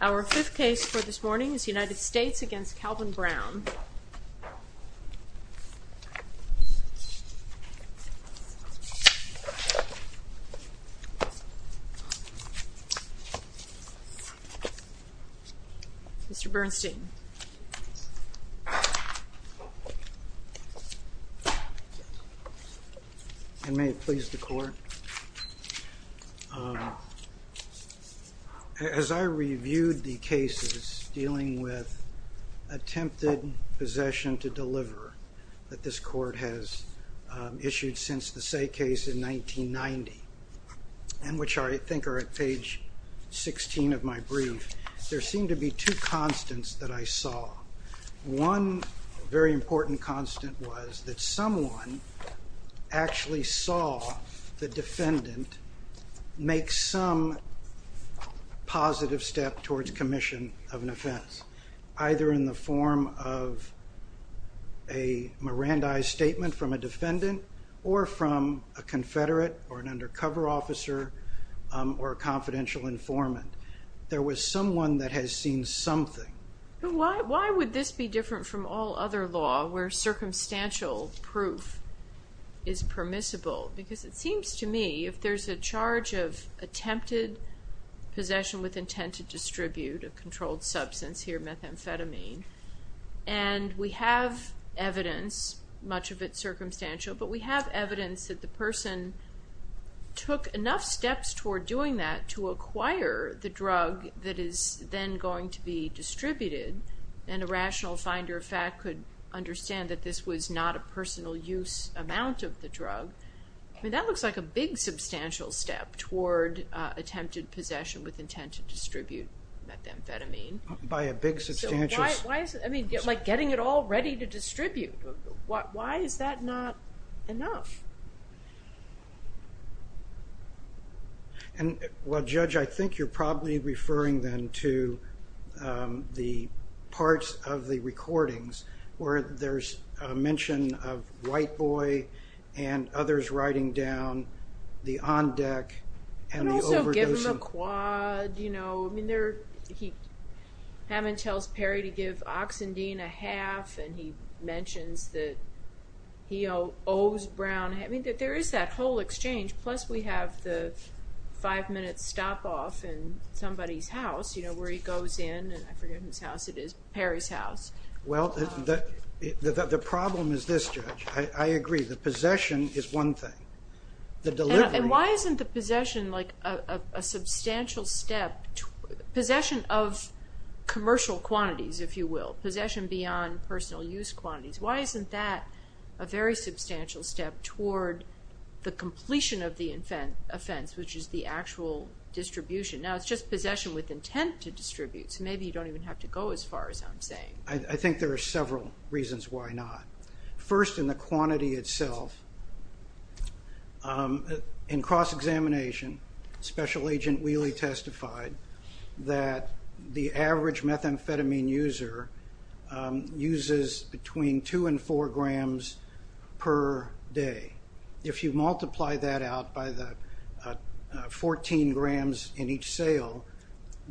Our fifth case for this morning is United States v. Calvin Brown. Mr. Bernstein. And may it please the court. As I reviewed the cases dealing with attempted possession to deliver that this court has issued since the Say case in 1990, and which I think are at page 16 of my brief, there One very important constant was that someone actually saw the defendant make some positive step towards commission of an offense, either in the form of a Mirandi statement from a defendant or from a confederate or an undercover officer or a confidential informant. There was someone that has seen something. Ms. Laird. But why would this be different from all other law where circumstantial proof is permissible? Because it seems to me if there's a charge of attempted possession with intent to distribute a controlled substance, here methamphetamine, and we have evidence, much of it circumstantial, but we have evidence that the person took enough steps toward doing that to acquire the drug that is then going to be distributed, and a rational finder of fact could understand that this was not a personal use amount of the drug, I mean, that looks like a big substantial step toward attempted possession with intent to distribute methamphetamine. By a big substantial. So why is it? I mean, like getting it all ready to distribute. Why is that not enough? And, well, Judge, I think you're probably referring then to the parts of the recordings where there's a mention of White Boy and others writing down the on deck and the overdosing. And also give him a quad, you know, I mean, Hammond tells Perry to give Oxendean a half and he mentions that he owes Brown, I mean, that there is that whole exchange, plus we have the five minute stop off in somebody's house, you know, where he goes in, and I forget whose house it is, Perry's house. Well, the problem is this, Judge, I agree, the possession is one thing. The delivery. And why isn't the possession like a substantial step, possession of commercial quantities, if you will. Possession beyond personal use quantities. Why isn't that a very substantial step toward the completion of the offense, which is the actual distribution? Now, it's just possession with intent to distribute, so maybe you don't even have to go as far as I'm saying. I think there are several reasons why not. First in the quantity itself. In cross-examination, Special Agent Wheely testified that the average methamphetamine user uses between two and four grams per day. If you multiply that out by the 14 grams in each sale,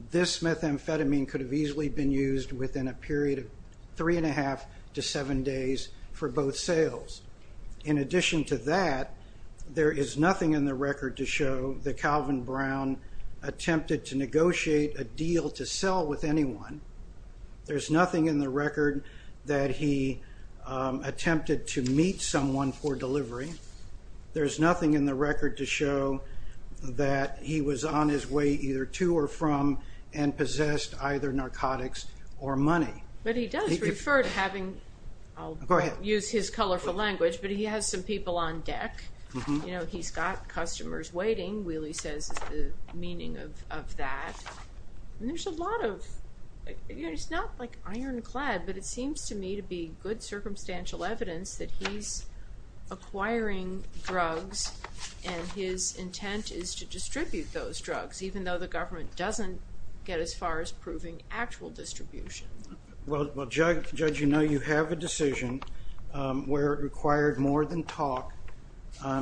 this methamphetamine could have easily been used within a period of three and a half to seven days for both sales. In addition to that, there is nothing in the record to show that Calvin Brown attempted to negotiate a deal to sell with anyone. There's nothing in the record that he attempted to meet someone for delivery. There's nothing in the record to show that he was on his way either to or from and possessed either narcotics or money. But he does refer to having, I'll use his colorful language, but he has some people on deck. You know, he's got customers waiting, Wheely says is the meaning of that. And there's a lot of, it's not like ironclad, but it seems to me to be good circumstantial evidence that he's acquiring drugs and his intent is to distribute those drugs, even though the government doesn't get as far as proving actual distribution. Well Judge, you know you have a decision where it required more than talk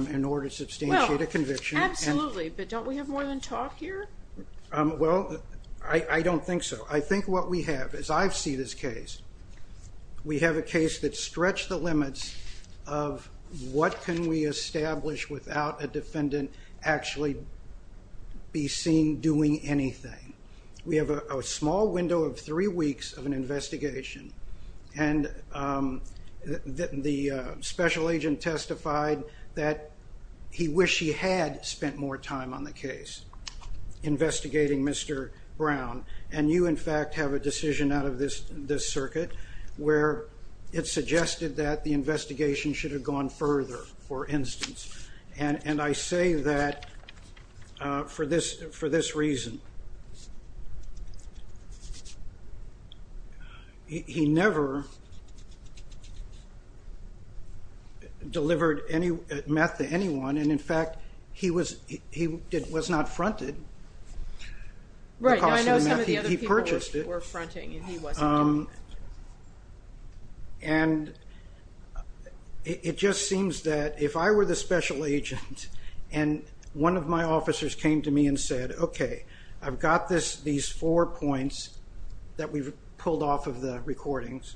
in order to substantiate a conviction. Absolutely, but don't we have more than talk here? Well I don't think so. I think what we have, as I've seen this case, we have a case that's stretched the limits of what can we establish without a defendant actually be seen doing anything. We have a small window of three weeks of an investigation and the special agent testified that he wished he had spent more time on the case investigating Mr. Brown. And you, in fact, have a decision out of this circuit where it suggested that the investigation should have gone further, for instance. And I say that for this reason. He never delivered meth to anyone, and in fact, he was not fronted because of the meth he purchased. Some of the other people were fronting and he wasn't doing that. And it just seems that if I were the special agent and one of my officers came to me and said, okay, I've got these four points that we've pulled off of the recordings,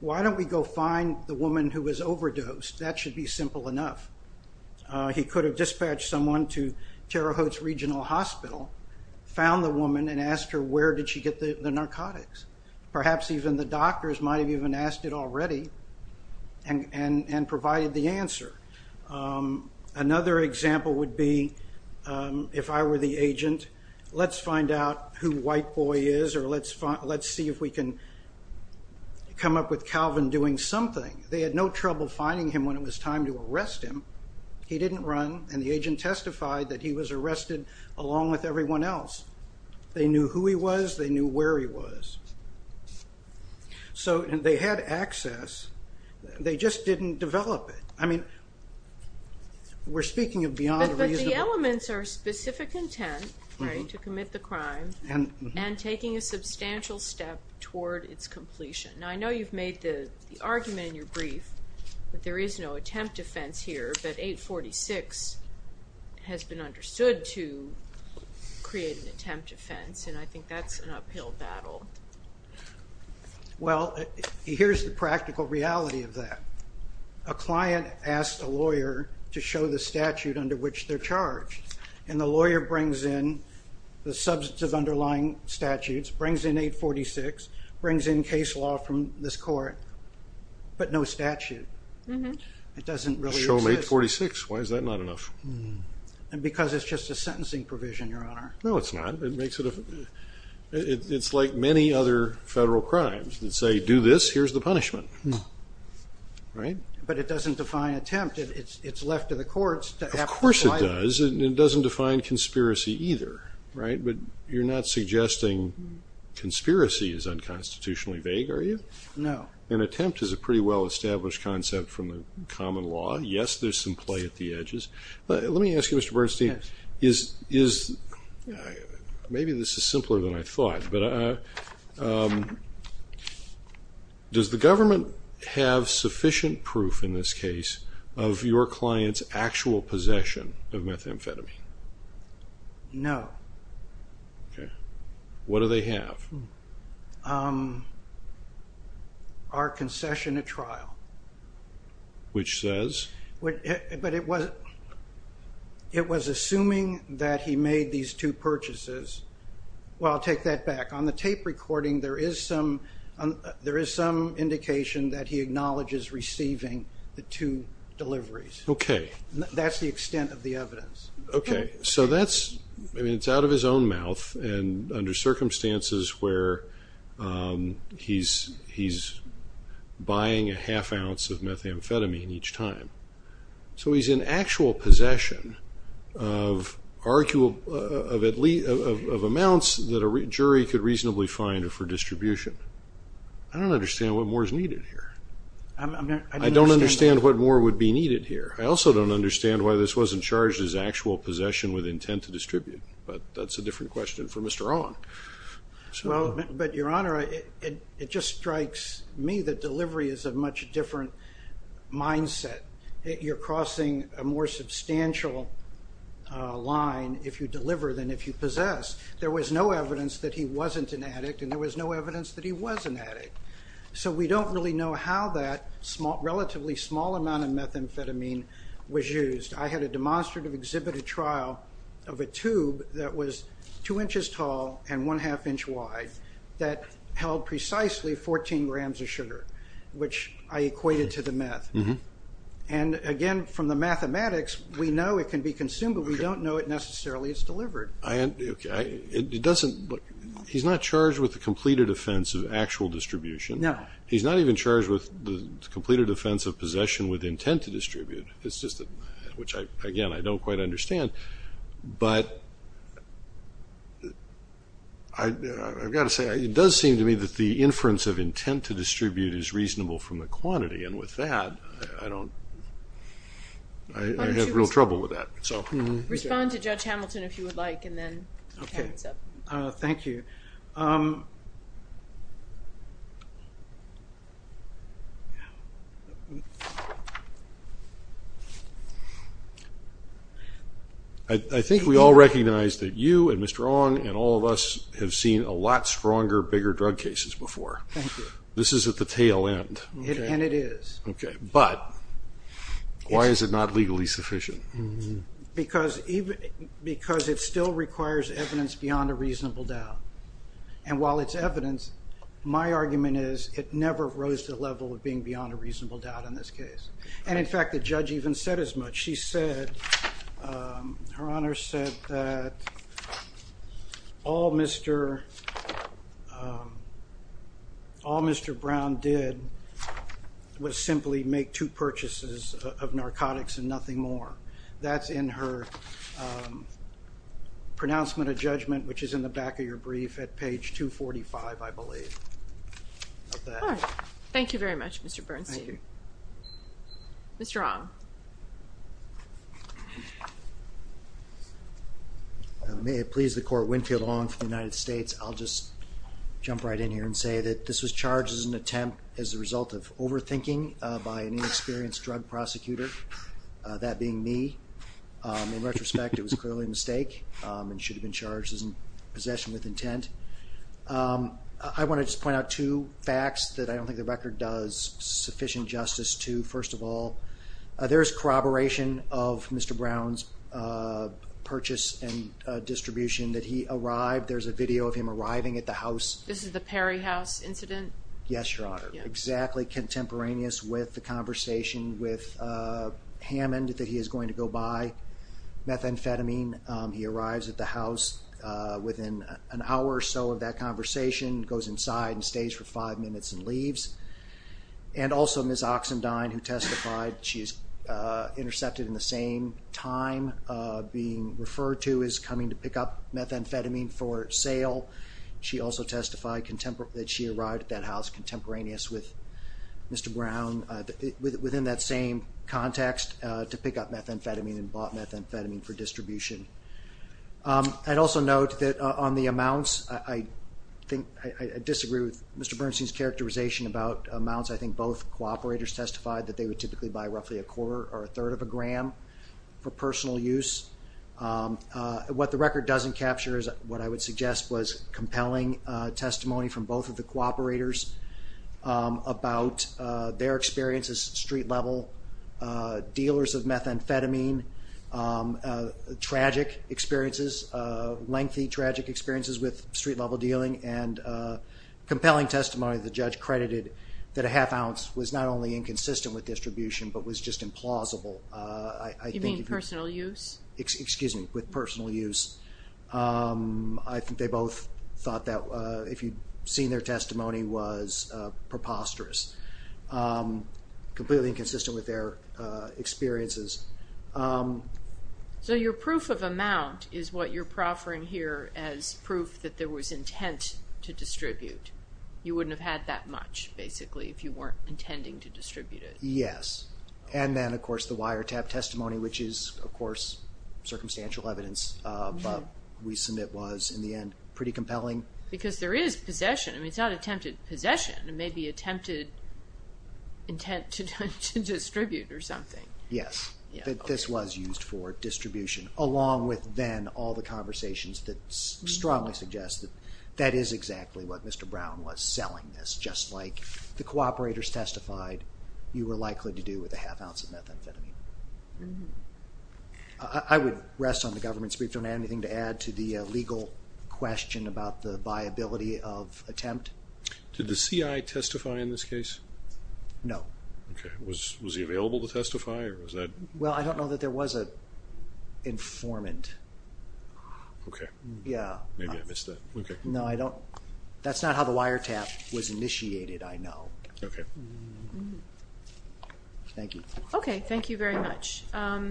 why don't we go find the woman who was overdosed? That should be simple enough. He could have dispatched someone to Terre Haute's Regional Hospital, found the woman, and asked her where did she get the narcotics. Perhaps even the doctors might have even asked it already and provided the answer. Another example would be if I were the agent, let's find out who White Boy is or let's see if we can come up with Calvin doing something. They had no trouble finding him when it was time to arrest him. He didn't run, and the agent testified that he was arrested along with everyone else. They knew who he was, they knew where he was. So they had access, they just didn't develop it. I mean, we're speaking of beyond a reasonable... But the elements are specific intent, right, to commit the crime, and taking a substantial step toward its completion. Now I know you've made the argument in your brief that there is no attempt to fence here but 846 has been understood to create an attempt to fence, and I think that's an uphill battle. Well, here's the practical reality of that. A client asked a lawyer to show the statute under which they're charged, and the lawyer brings in the substantive underlying statutes, brings in 846, brings in case law from this court, but no statute. It doesn't really exist. Show 846, why is that not enough? And because it's just a sentencing provision, Your Honor. No, it's not. It makes it a... It's like many other federal crimes that say, do this, here's the punishment, right? But it doesn't define attempt. It's left to the courts. Of course it does, and it doesn't define conspiracy either, right? But you're not suggesting conspiracy is unconstitutionally vague, are you? No. An attempt is a pretty well-established concept from the common law. Yes, there's some play at the edges, but let me ask you, Mr. Bernstein, is... Maybe this is simpler than I thought, but does the government have sufficient proof in this case of your client's actual possession of methamphetamine? No. Okay. What do they have? Our concession at trial. Which says? But it was assuming that he made these two purchases. Well, I'll take that back. On the tape recording, there is some indication that he acknowledges receiving the two deliveries. Okay. That's the extent of the evidence. Okay. So that's... I mean, it's out of his own mouth, and under circumstances where he's buying a half ounce of methamphetamine each time. So he's in actual possession of amounts that a jury could reasonably find for distribution. I don't understand what more is needed here. I don't understand what more would be needed here. I also don't understand why this wasn't charged as actual possession with intent to distribute, but that's a different question for Mr. Ong. But Your Honor, it just strikes me that delivery is a much different mindset. You're crossing a more substantial line if you deliver than if you possess. There was no evidence that he wasn't an addict, and there was no evidence that he was an addict. So we don't really know how that relatively small amount of methamphetamine was used. I had a demonstrative exhibited trial of a tube that was two inches tall and one half inch wide that held precisely 14 grams of sugar, which I equated to the meth. And again, from the mathematics, we know it can be consumed, but we don't know it necessarily is delivered. Okay. It doesn't, he's not charged with the completed offense of actual distribution. He's not even charged with the completed offense of possession with intent to distribute. It's just, which again, I don't quite understand. But I've got to say, it does seem to me that the inference of intent to distribute is reasonable from the quantity. And with that, I don't, I have real trouble with that. Respond to Judge Hamilton if you would like, and then we'll tie this up. Thank you. I think we all recognize that you and Mr. Ong and all of us have seen a lot stronger, bigger drug cases before. This is at the tail end. And it is. Okay. But why is it not legally sufficient? Because it still requires evidence beyond a reasonable doubt. And while it's evidence, my argument is it never rose to the level of being beyond a reasonable doubt in this case. And in fact, the judge even said as much. She said, Her Honor said that all Mr. Brown did was simply make two purchases of narcotics and nothing more. That's in her pronouncement of judgment, which is in the back of your brief at page 245, I believe. All right. Thank you very much, Mr. Bernstein. Thank you. Mr. Ong. May it please the Court, Winfield Ong for the United States. I'll just jump right in here and say that this was charged as an attempt as a result of overthinking by an inexperienced drug prosecutor, that being me. In retrospect, it was clearly a mistake and should have been charged as in possession with intent. I want to just point out two facts that I don't think the record does sufficient justice to. First of all, there is corroboration of Mr. Brown's purchase and distribution that he arrived. There's a video of him arriving at the house. This is the Perry House incident? Yes, Your Honor. Exactly contemporaneous with the conversation with Hammond that he is going to go buy methamphetamine. He arrives at the house within an hour or so of that conversation, goes inside and stays for five minutes and leaves. And also Ms. Oxendine who testified, she's intercepted in the same time being referred to as coming to pick up methamphetamine for sale. She also testified that she arrived at that house contemporaneous with Mr. Brown within that same context to pick up methamphetamine and bought methamphetamine for distribution. I'd also note that on the amounts, I disagree with Mr. Bernstein's characterization about amounts. I think both cooperators testified that they would typically buy roughly a quarter or a third of a gram for personal use. What the record doesn't capture is what I would suggest was compelling testimony from street-level dealers of methamphetamine, tragic experiences, lengthy tragic experiences with street-level dealing, and compelling testimony that the judge credited that a half ounce was not only inconsistent with distribution but was just implausible. You mean personal use? Excuse me, with personal use. I think they both thought that if you'd seen their testimony was preposterous. Completely inconsistent with their experiences. So your proof of amount is what you're proffering here as proof that there was intent to distribute. You wouldn't have had that much, basically, if you weren't intending to distribute it. Yes. And then, of course, the wiretap testimony, which is, of course, circumstantial evidence, but we submit was, in the end, pretty compelling. Because there is possession. I mean, it's not attempted possession. It may be attempted intent to distribute or something. Yes. That this was used for distribution, along with, then, all the conversations that strongly suggest that that is exactly what Mr. Brown was selling, just like the cooperators testified you were likely to do with a half ounce of methamphetamine. I would rest on the government's brief. Do I have anything to add to the legal question about the viability of attempt? Did the CI testify in this case? No. Okay. Was he available to testify? Or was that... Well, I don't know that there was an informant. Okay. Yeah. Maybe I missed that. Okay. No, I don't... That's not how the wiretap was initiated, I know. Okay. Thank you. Okay. Thank you very much. I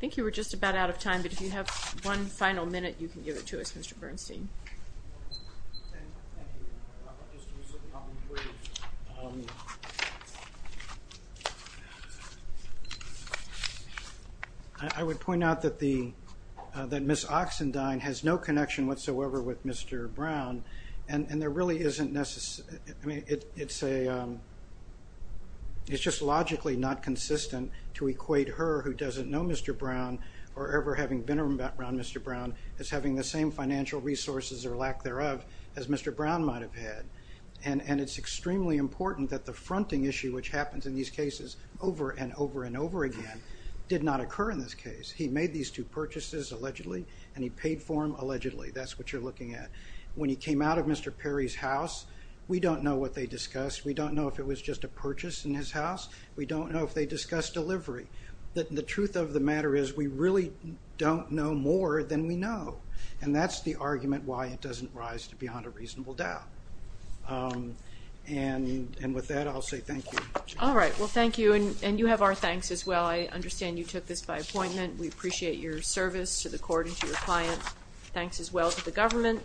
think you were just about out of time, but if you have one final minute, you can give it to us, Mr. Bernstein. I would point out that Ms. Oxendine has no connection whatsoever with Mr. Brown, and there really isn't necessarily, I mean, it's just logically not consistent to equate her who doesn't know Mr. Brown, or ever having been around Mr. Brown, as having the same financial resources, or lack thereof, as Mr. Brown might have had. And it's extremely important that the fronting issue, which happens in these cases over and over and over again, did not occur in this case. He made these two purchases, allegedly, and he paid for them, allegedly. That's what you're looking at. When he came out of Mr. Perry's house, we don't know what they discussed. We don't know if it was just a purchase in his house. We don't know if they discussed delivery. The truth of the matter is, we really don't know more than we know. And that's the argument why it doesn't rise to beyond a reasonable doubt. And with that, I'll say thank you. All right. Well, thank you, and you have our thanks as well. I understand you took this by appointment. We appreciate your service to the court and to your clients. Thanks as well to the government.